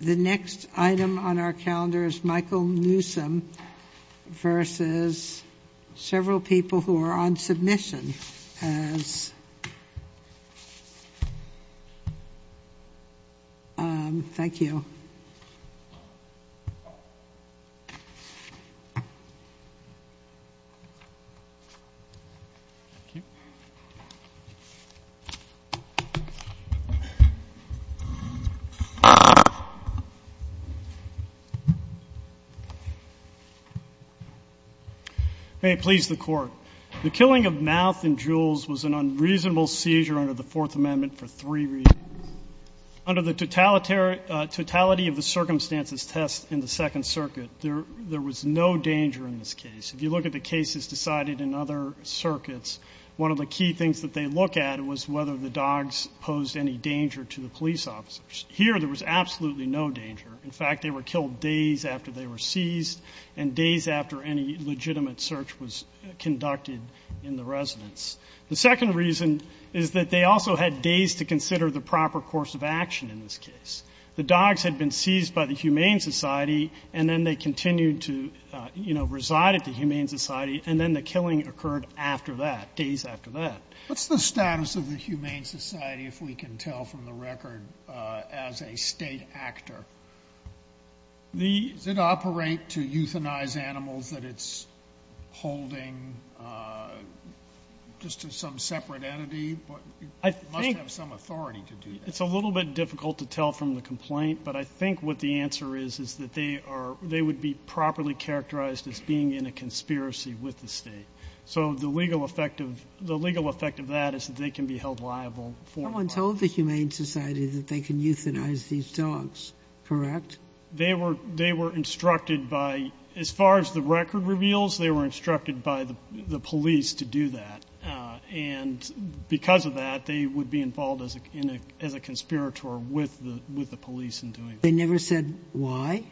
The next item on our calendar is Michael Newsome versus several people who are on submission as Thank you May it please the court. The killing of Mouth and Jules was an unreasonable seizure under the Fourth Amendment for three reasons. Under the totality of the circumstances test in the Second Circuit, there was no danger in this case. If you look at the cases decided in other circuits, one of the key things that they look at was whether the dogs posed any danger to the police officers. Here, there was absolutely no danger. In fact, they were killed days after they were seized and days after any legitimate search was conducted in the residence. The second reason is that they also had days to consider the proper course of action in this case. The dogs had been seized by the Humane Society and then they continued to reside at the Humane Society and then the killing occurred days after that. What's the status of the Humane Society, if we can tell from the record, as a state actor? Does it operate to euthanize animals that it's holding just to some separate entity? It must have some authority to do that. It's a little bit difficult to tell from the complaint, but I think what the answer is is that they would be properly characterized as being in a conspiracy with the state. The legal effect of that is that they can be held liable. Someone told the Humane Society that they can euthanize these dogs, correct? They were instructed by, as far as the record reveals, they were instructed by the police to do that. Because of that, they would be involved as a conspirator with the police in doing that. They never said why?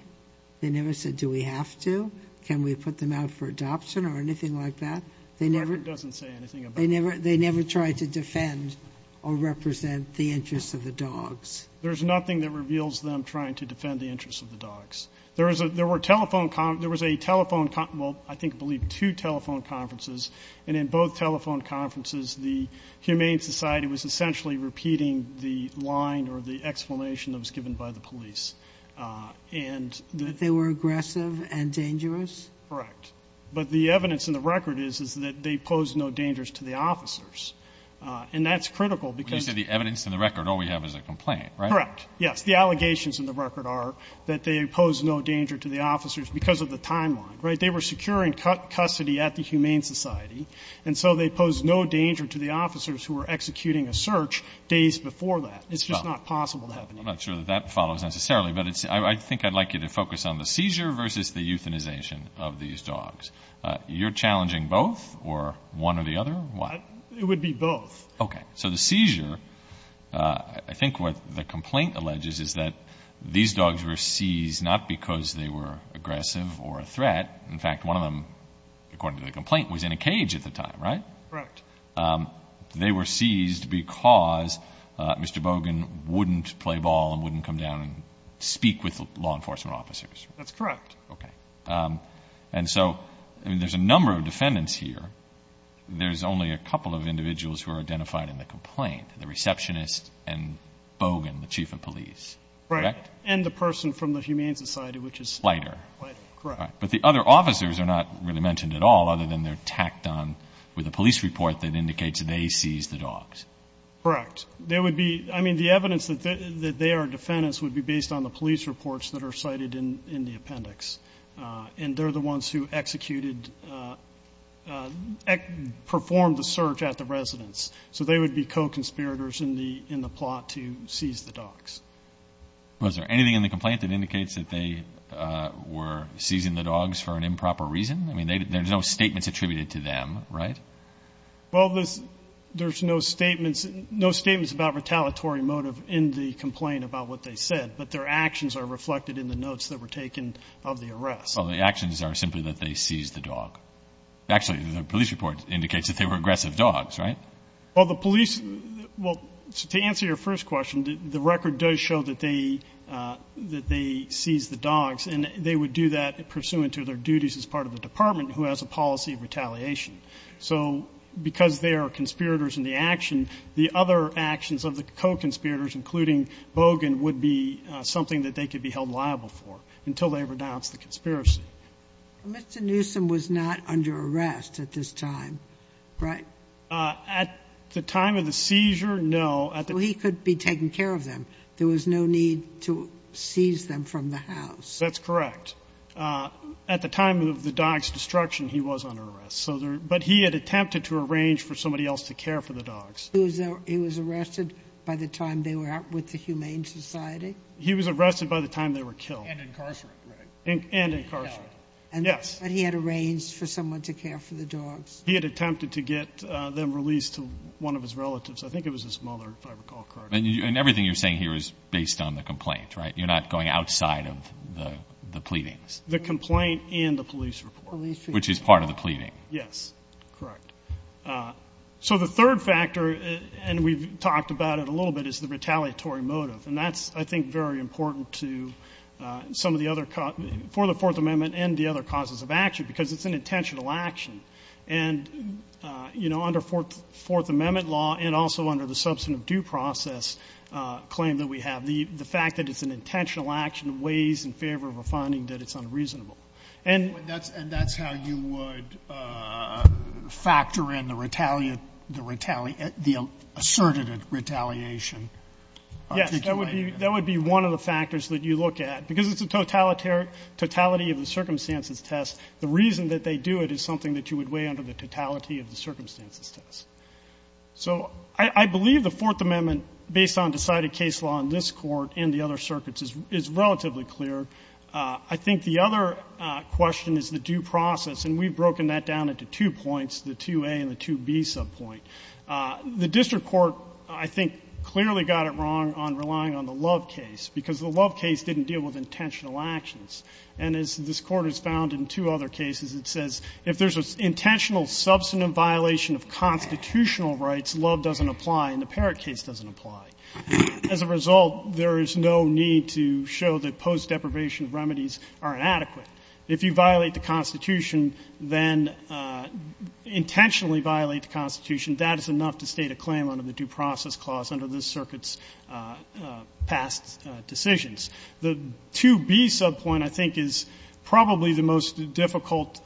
They never said do we have to? Can we put them out for adoption or anything like that? The record doesn't say anything about that. They never tried to defend or represent the interests of the dogs. There's nothing that reveals them trying to defend the interests of the dogs. There was a telephone, well, I think I believe two telephone conferences. And in both telephone conferences, the Humane Society was essentially repeating the line or the explanation that was given by the police. But they were aggressive and dangerous? Correct. But the evidence in the record is that they posed no dangers to the officers. And that's critical because... When you say the evidence in the record, all we have is a complaint, right? Correct. Yes, the allegations in the record are that they posed no danger to the officers because of the timeline, right? They were securing custody at the Humane Society. And so they posed no danger to the officers who were executing a search days before that. It's just not possible to happen. I'm not sure that that follows necessarily. But I think I'd like you to focus on the seizure versus the euthanization of these dogs. You're challenging both or one or the other? It would be both. Okay. So the seizure, I think what the complaint alleges is that these dogs were seized not because they were aggressive or a threat. In fact, one of them, according to the complaint, was in a cage at the time, right? Correct. They were seized because Mr. Bogan wouldn't play ball and wouldn't come down and speak with law enforcement officers. That's correct. Okay. And so there's a number of defendants here. There's only a couple of individuals who are identified in the complaint, the receptionist and Bogan, the chief of police, correct? Right. And the person from the Humane Society, which is lighter. Correct. But the other officers are not really mentioned at all other than they're tacked on with a police report that indicates they seized the dogs. Correct. There would be, I mean, the evidence that they are defendants would be based on the police reports that are cited in the appendix. And they're the ones who executed, performed the search at the residence. So they would be co-conspirators in the plot to seize the dogs. Was there anything in the complaint that indicates that they were seizing the dogs for an improper reason? I mean, there's no statements attributed to them, right? Well, there's no statements about retaliatory motive in the complaint about what they said. But their actions are reflected in the notes that were taken of the arrest. Well, the actions are simply that they seized the dog. Actually, the police report indicates that they were aggressive dogs, right? Well, the police, well, to answer your first question, the record does show that they seized the dogs. And they would do that pursuant to their duties as part of the department who has a policy of retaliation. So because they are conspirators in the action, the other actions of the co-conspirators, including Bogan, would be something that they could be held liable for until they renounce the conspiracy. Mr. Newsom was not under arrest at this time, right? At the time of the seizure, no. He could be taking care of them. There was no need to seize them from the house. That's correct. At the time of the dog's destruction, he was under arrest. But he had attempted to arrange for somebody else to care for the dogs. He was arrested by the time they were out with the Humane Society? He was arrested by the time they were killed. And incarcerated, right? And incarcerated, yes. But he had arranged for someone to care for the dogs? He had attempted to get them released to one of his relatives. I think it was his mother, if I recall correctly. And everything you're saying here is based on the complaint, right? You're not going outside of the pleadings? The complaint and the police report. Which is part of the pleading. Yes, correct. So the third factor, and we've talked about it a little bit, is the retaliatory motive. And that's, I think, very important for the Fourth Amendment and the other causes of action. Because it's an intentional action. And under Fourth Amendment law and also under the substantive due process claim that we have, the fact that it's an intentional action weighs in favor of a finding that it's unreasonable. And that's how you would factor in the asserted retaliation? Yes, that would be one of the factors that you look at. Because it's a totality of the circumstances test, the reason that they do it is something that you would weigh under the totality of the circumstances test. So I believe the Fourth Amendment, based on decided case law in this Court and the other circuits, is relatively clear. I think the other question is the due process. And we've broken that down into two points, the 2A and the 2B subpoint. The district court, I think, clearly got it wrong on relying on the Love case, because the Love case didn't deal with intentional actions. And as this Court has found in two other cases, it says if there's an intentional substantive violation of constitutional rights, Love doesn't apply and the Parrott case doesn't apply. As a result, there is no need to show that post-deprivation remedies are inadequate. If you violate the Constitution, then intentionally violate the Constitution, that is enough to state a claim under the due process clause under this circuit's past decisions. The 2B subpoint, I think, is probably the most difficult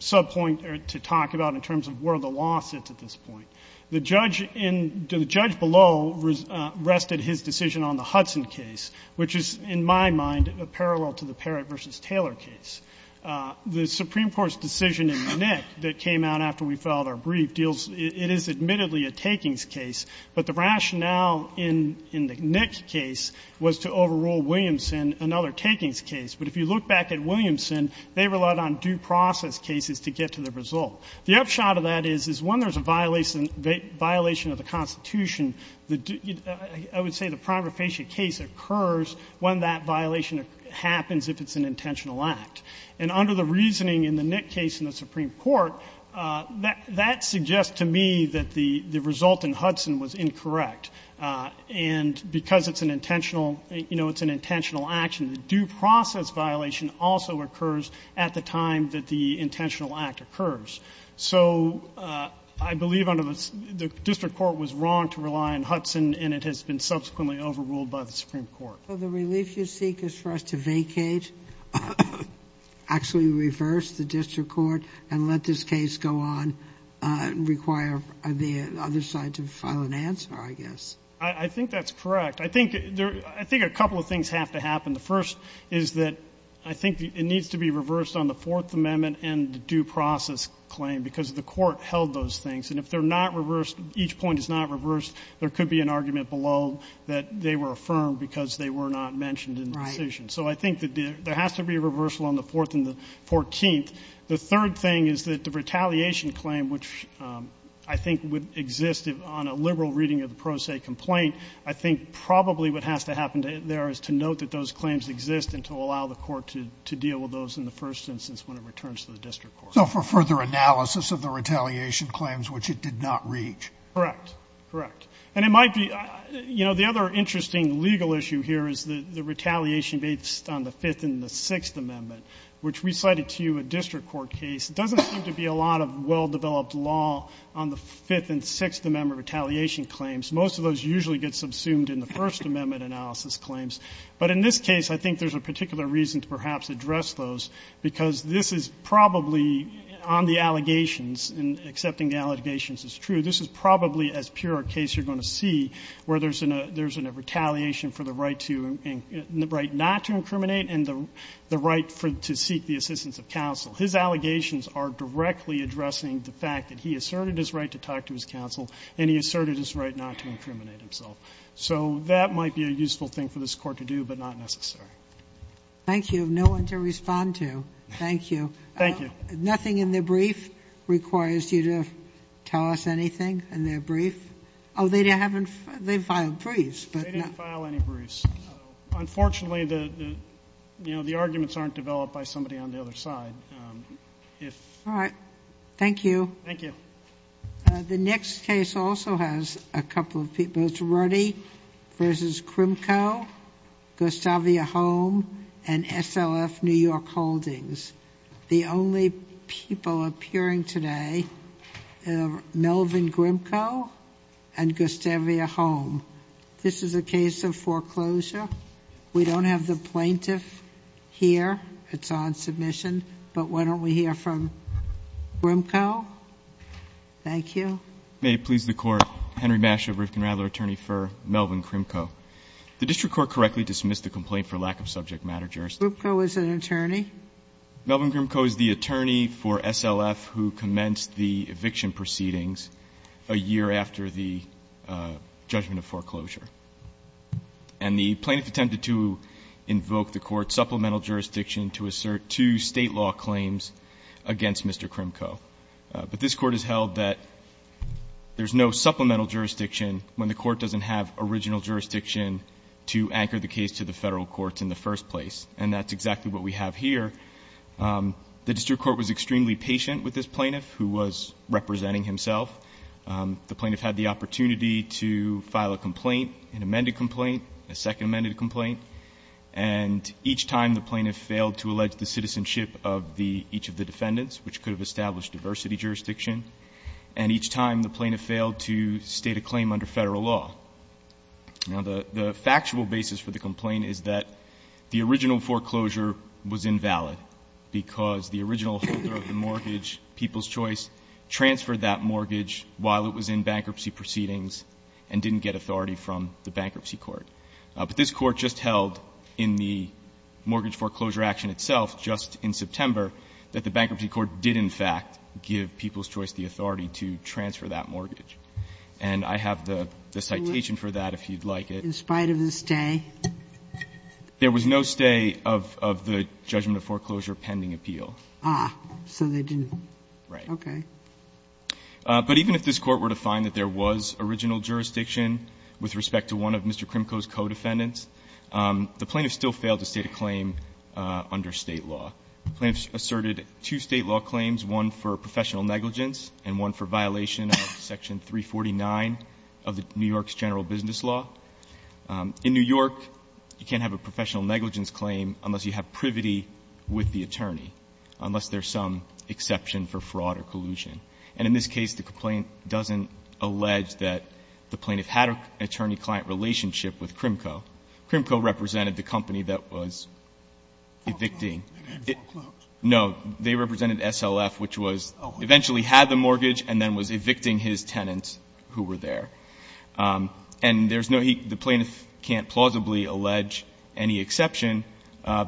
subpoint to talk about in terms of where the law sits at this point. The judge in the judge below rested his decision on the Hudson case, which is, in my mind, a parallel to the Parrott v. Taylor case. The Supreme Court's decision in the Nick that came out after we filed our brief deals, it is admittedly a takings case. But the rationale in the Nick case was to overrule Williamson, another takings case. But if you look back at Williamson, they relied on due process cases to get to the result. The upshot of that is when there is a violation of the Constitution, I would say the prima facie case occurs when that violation happens if it is an intentional act. And under the reasoning in the Nick case in the Supreme Court, that suggests to me that the result in Hudson was incorrect. And because it is an intentional action, the due process violation also occurs at the time that the intentional act occurs. So I believe the district court was wrong to rely on Hudson, and it has been subsequently overruled by the Supreme Court. So the relief you seek is for us to vacate, actually reverse the district court and let this case go on and require the other side to file an answer, I guess? I think that's correct. I think a couple of things have to happen. The first is that I think it needs to be reversed on the Fourth Amendment and the due process claim because the court held those things. And if they're not reversed, each point is not reversed, there could be an argument below that they were affirmed because they were not mentioned in the decision. So I think that there has to be a reversal on the Fourth and the Fourteenth. The third thing is that the retaliation claim, which I think would exist on a liberal reading of the pro se complaint, I think probably what has to happen there is to note that those claims exist and to allow the court to deal with those in the first instance when it returns to the district court. So for further analysis of the retaliation claims, which it did not reach. Correct. Correct. And it might be, you know, the other interesting legal issue here is the retaliation based on the Fifth and the Sixth Amendment, which we cited to you a district court case. It doesn't seem to be a lot of well-developed law on the Fifth and Sixth Amendment retaliation claims. Most of those usually get subsumed in the First Amendment analysis claims. But in this case, I think there's a particular reason to perhaps address those, because this is probably on the allegations, and accepting the allegations is true, this is probably as pure a case you're going to see where there's a retaliation for the right not to incriminate and the right to seek the assistance of counsel. His allegations are directly addressing the fact that he asserted his right to talk to his counsel and he asserted his right not to incriminate himself. So that might be a useful thing for this Court to do, but not necessary. Thank you. No one to respond to. Thank you. Thank you. Nothing in their brief requires you to tell us anything in their brief? Oh, they haven't. They filed briefs. They didn't file any briefs. Unfortunately, you know, the arguments aren't developed by somebody on the other side. All right. Thank you. Thank you. The next case also has a couple of people. It's Ruddy v. Grimcoe, Gustavia Holm, and SLF New York Holdings. The only people appearing today are Melvin Grimcoe and Gustavia Holm. This is a case of foreclosure. We don't have the plaintiff here. It's on submission. But why don't we hear from Grimcoe? Thank you. May it please the Court. Henry Masch of Rifkin-Radler, attorney for Melvin Grimcoe. The district court correctly dismissed the complaint for lack of subject matter jurisdiction. Grimcoe is an attorney? Melvin Grimcoe is the attorney for SLF who commenced the eviction proceedings a year after the judgment of foreclosure. And the plaintiff attempted to invoke the Court's supplemental jurisdiction to assert two state law claims against Mr. Grimcoe. But this Court has held that there's no supplemental jurisdiction when the Court doesn't have original jurisdiction to anchor the case to the federal courts in the first place. And that's exactly what we have here. The district court was extremely patient with this plaintiff who was representing himself. The plaintiff had the opportunity to file a complaint, an amended complaint, a second amended complaint. And each time the plaintiff failed to allege the citizenship of each of the defendants, which could have established diversity jurisdiction. And each time the plaintiff failed to state a claim under federal law. Now, the factual basis for the complaint is that the original foreclosure was invalid because the original holder of the mortgage, People's Choice, transferred that mortgage while it was in bankruptcy proceedings and didn't get authority from the Bankruptcy Court. But this Court just held in the mortgage foreclosure action itself just in September that the Bankruptcy Court did, in fact, give People's Choice the authority to transfer that mortgage. And I have the citation for that, if you'd like it. In spite of the stay? There was no stay of the judgment of foreclosure pending appeal. Ah. So they didn't. Right. Okay. But even if this Court were to find that there was original jurisdiction with respect to one of Mr. Krimko's co-defendants, the plaintiff still failed to state a claim under State law. The plaintiff asserted two State law claims, one for professional negligence and one for violation of section 349 of New York's general business law. In New York, you can't have a professional negligence claim unless you have privity with the attorney, unless there's some exception for fraud or collusion. And in this case, the complaint doesn't allege that the plaintiff had an attorney-client relationship with Krimko. Krimko represented the company that was evicting. Oh, they didn't foreclose? No. They represented SLF, which was eventually had the mortgage and then was evicting his tenants who were there. And there's no heat. The plaintiff can't plausibly allege any exception,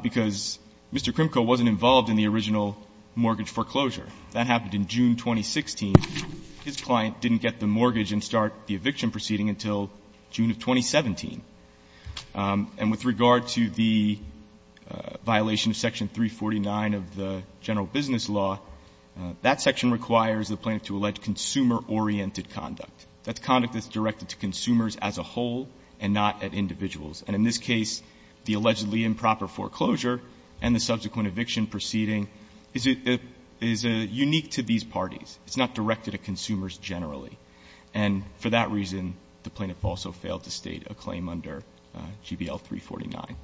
because Mr. Krimko wasn't involved in the original mortgage foreclosure. That happened in June 2016. His client didn't get the mortgage and start the eviction proceeding until June of 2017. And with regard to the violation of section 349 of the general business law, that section requires the plaintiff to allege consumer-oriented conduct. That's conduct that's directed to consumers as a whole and not at individuals. And in this case, the allegedly improper foreclosure and the subsequent eviction proceeding is unique to these parties. It's not directed at consumers generally. And for that reason, the plaintiff also failed to state a claim under GBL 349.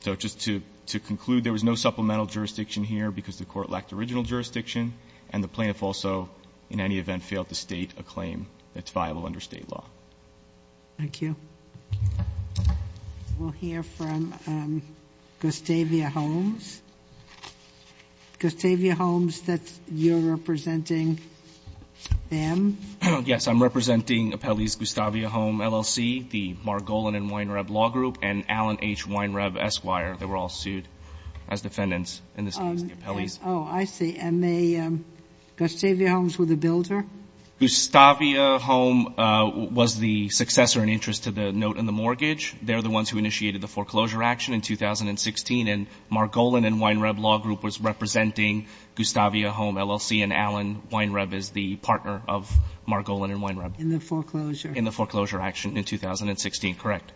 So just to conclude, there was no supplemental jurisdiction here because the court lacked original jurisdiction, and the plaintiff also, in any event, failed to state a claim that's viable under state law. Thank you. We'll hear from Gustavia Holmes. Gustavia Holmes, you're representing them? Yes, I'm representing Appellees Gustavia Holmes, LLC, the Margolin and Weinreb Law Group, and Allen H. Weinreb, Esquire. They were all sued as defendants in this case, the appellees. Oh, I see. And Gustavia Holmes was the builder? Gustavia Holmes was the successor in interest to the note in the mortgage. They're the ones who initiated the foreclosure action in 2016, and Margolin and Weinreb Law Group was representing Gustavia Holmes, LLC, and Allen H. Weinreb is the partner of Margolin and Weinreb. In the foreclosure? In the foreclosure action in 2016, correct.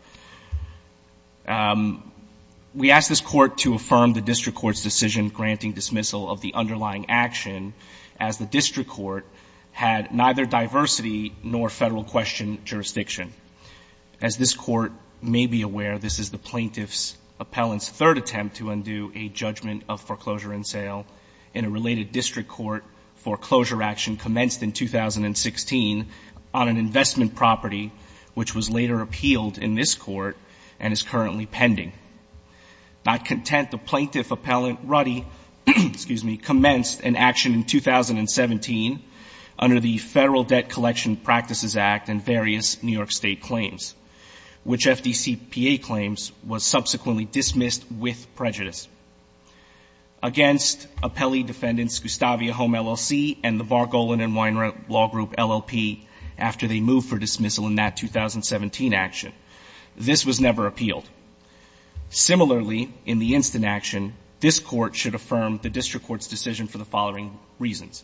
We asked this Court to affirm the district court's decision granting dismissal of the underlying action as the district court had neither diversity nor federal question jurisdiction. As this Court may be aware, this is the plaintiff's appellant's third attempt to undo a judgment of foreclosure in sale in a related district court foreclosure action commenced in 2016 on an investment property which was later appealed in this court and is currently pending. Not content, the plaintiff appellant Ruddy, excuse me, commenced an action in 2017 under the Federal Debt Collection Practices Act and various New York State claims, which FDCPA claims was subsequently dismissed with prejudice against appellee defendants Gustavia Holmes, LLC, and the Margolin and Weinreb Law Group, LLP, after they moved for dismissal in that 2017 action. This was never appealed. Similarly, in the instant action, this Court should affirm the district court's decision for the following reasons.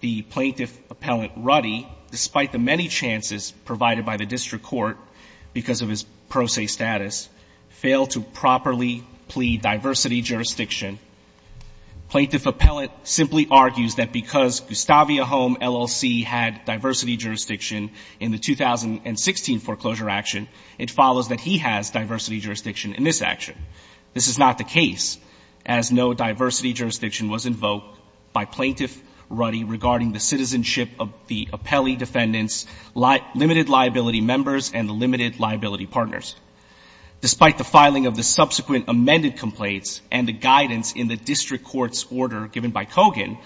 The plaintiff appellant Ruddy, despite the many chances provided by the district court because of his pro se status, failed to properly plead diversity jurisdiction. Plaintiff appellant simply argues that because Gustavia Holmes, LLC, had diversity jurisdiction in the 2016 foreclosure action, it follows that he has diversity jurisdiction in this action. This is not the case, as no diversity jurisdiction was invoked by Plaintiff Ruddy regarding the citizenship of the appellee defendants' limited liability members and the limited liability partners. Despite the filing of the subsequent amended complaints and the guidance in the district court's order given by Kogan,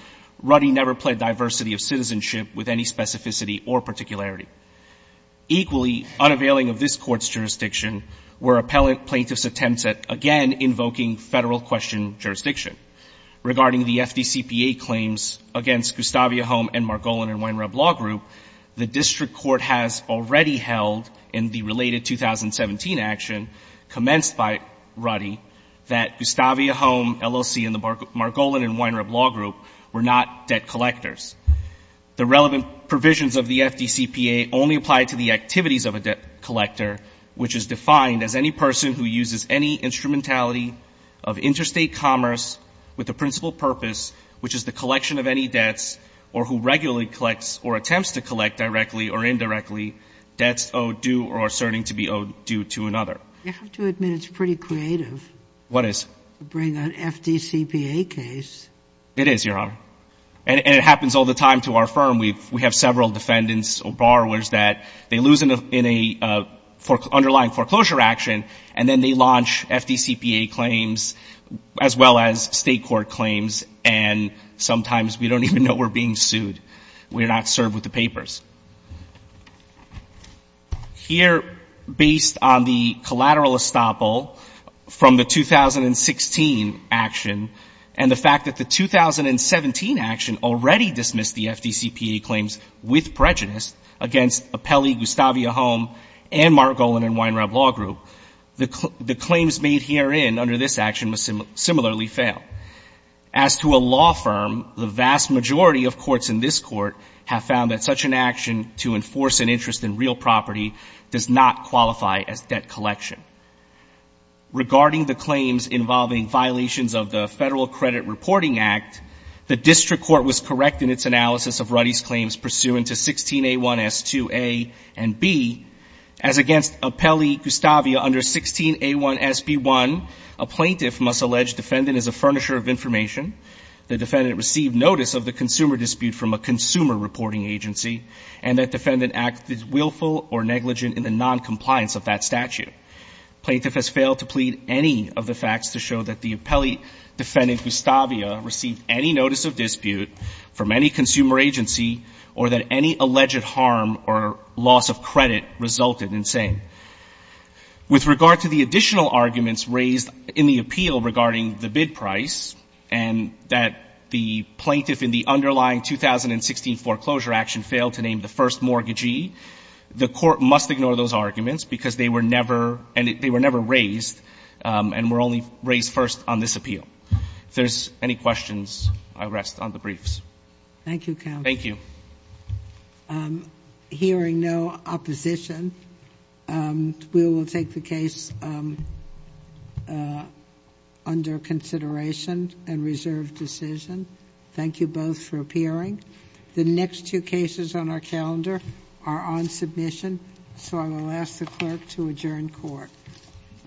Ruddy never pled diversity of citizenship with any specificity or particularity. Equally, unavailing of this Court's jurisdiction were appellant plaintiffs' attempts at, again, invoking Federal question jurisdiction. Regarding the FDCPA claims against Gustavia Holmes and Margolin and Weinreb Law Group, the district court has already held in the related 2017 action commenced by Ruddy that Gustavia Holmes, LLC, and the Margolin and Weinreb Law Group were not debt collectors. The relevant provisions of the FDCPA only apply to the activities of a debt collector, which is defined as any person who uses any instrumentality of interstate commerce with the principal purpose, which is the collection of any debts, or who regularly collects or attempts to collect directly or indirectly, debts owed due or asserting to be owed due to another. You have to admit it's pretty creative. What is? To bring an FDCPA case. It is, Your Honor. And it happens all the time to our firm. We have several defendants or borrowers that they lose in an underlying foreclosure action, and then they launch FDCPA claims, as well as State court claims, and sometimes we don't even know we're being sued. We're not served with the papers. Here, based on the collateral estoppel from the 2016 action and the fact that the 2017 action already dismissed the FDCPA claims with prejudice against Appelli, Gustavia Holmes, and Margolin and Weinreb Law Group, the claims made herein under this action similarly fail. As to a law firm, the vast majority of courts in this Court have found that such an action to enforce an interest in real property does not qualify as debt collection. Regarding the claims involving violations of the Federal Credit Reporting Act, the District Court was correct in its analysis of Ruddy's claims pursuant to 16A1S2A and B. As against Appelli, Gustavia, under 16A1SB1, a plaintiff must allege defendant is a furnisher of information, the defendant received notice of the consumer dispute from a consumer reporting agency, and that defendant acted willful or negligent in the noncompliance of that statute. Plaintiff has failed to plead any of the facts to show that the Appelli defendant, Gustavia, received any notice of dispute from any consumer agency or that any alleged harm or loss of credit resulted in saying. With regard to the additional arguments raised in the appeal regarding the bid price and that the plaintiff in the underlying 2016 foreclosure action failed to name the first mortgagee, the Court must ignore those arguments because they were never raised and were only raised first on this appeal. If there's any questions, I rest on the briefs. Thank you, counsel. Thank you. Hearing no opposition, we will take the case under consideration and reserve decision. Thank you both for appearing. The next two cases on our calendar are on submission, so I will ask the clerk to adjourn court. Thank you. Thank you.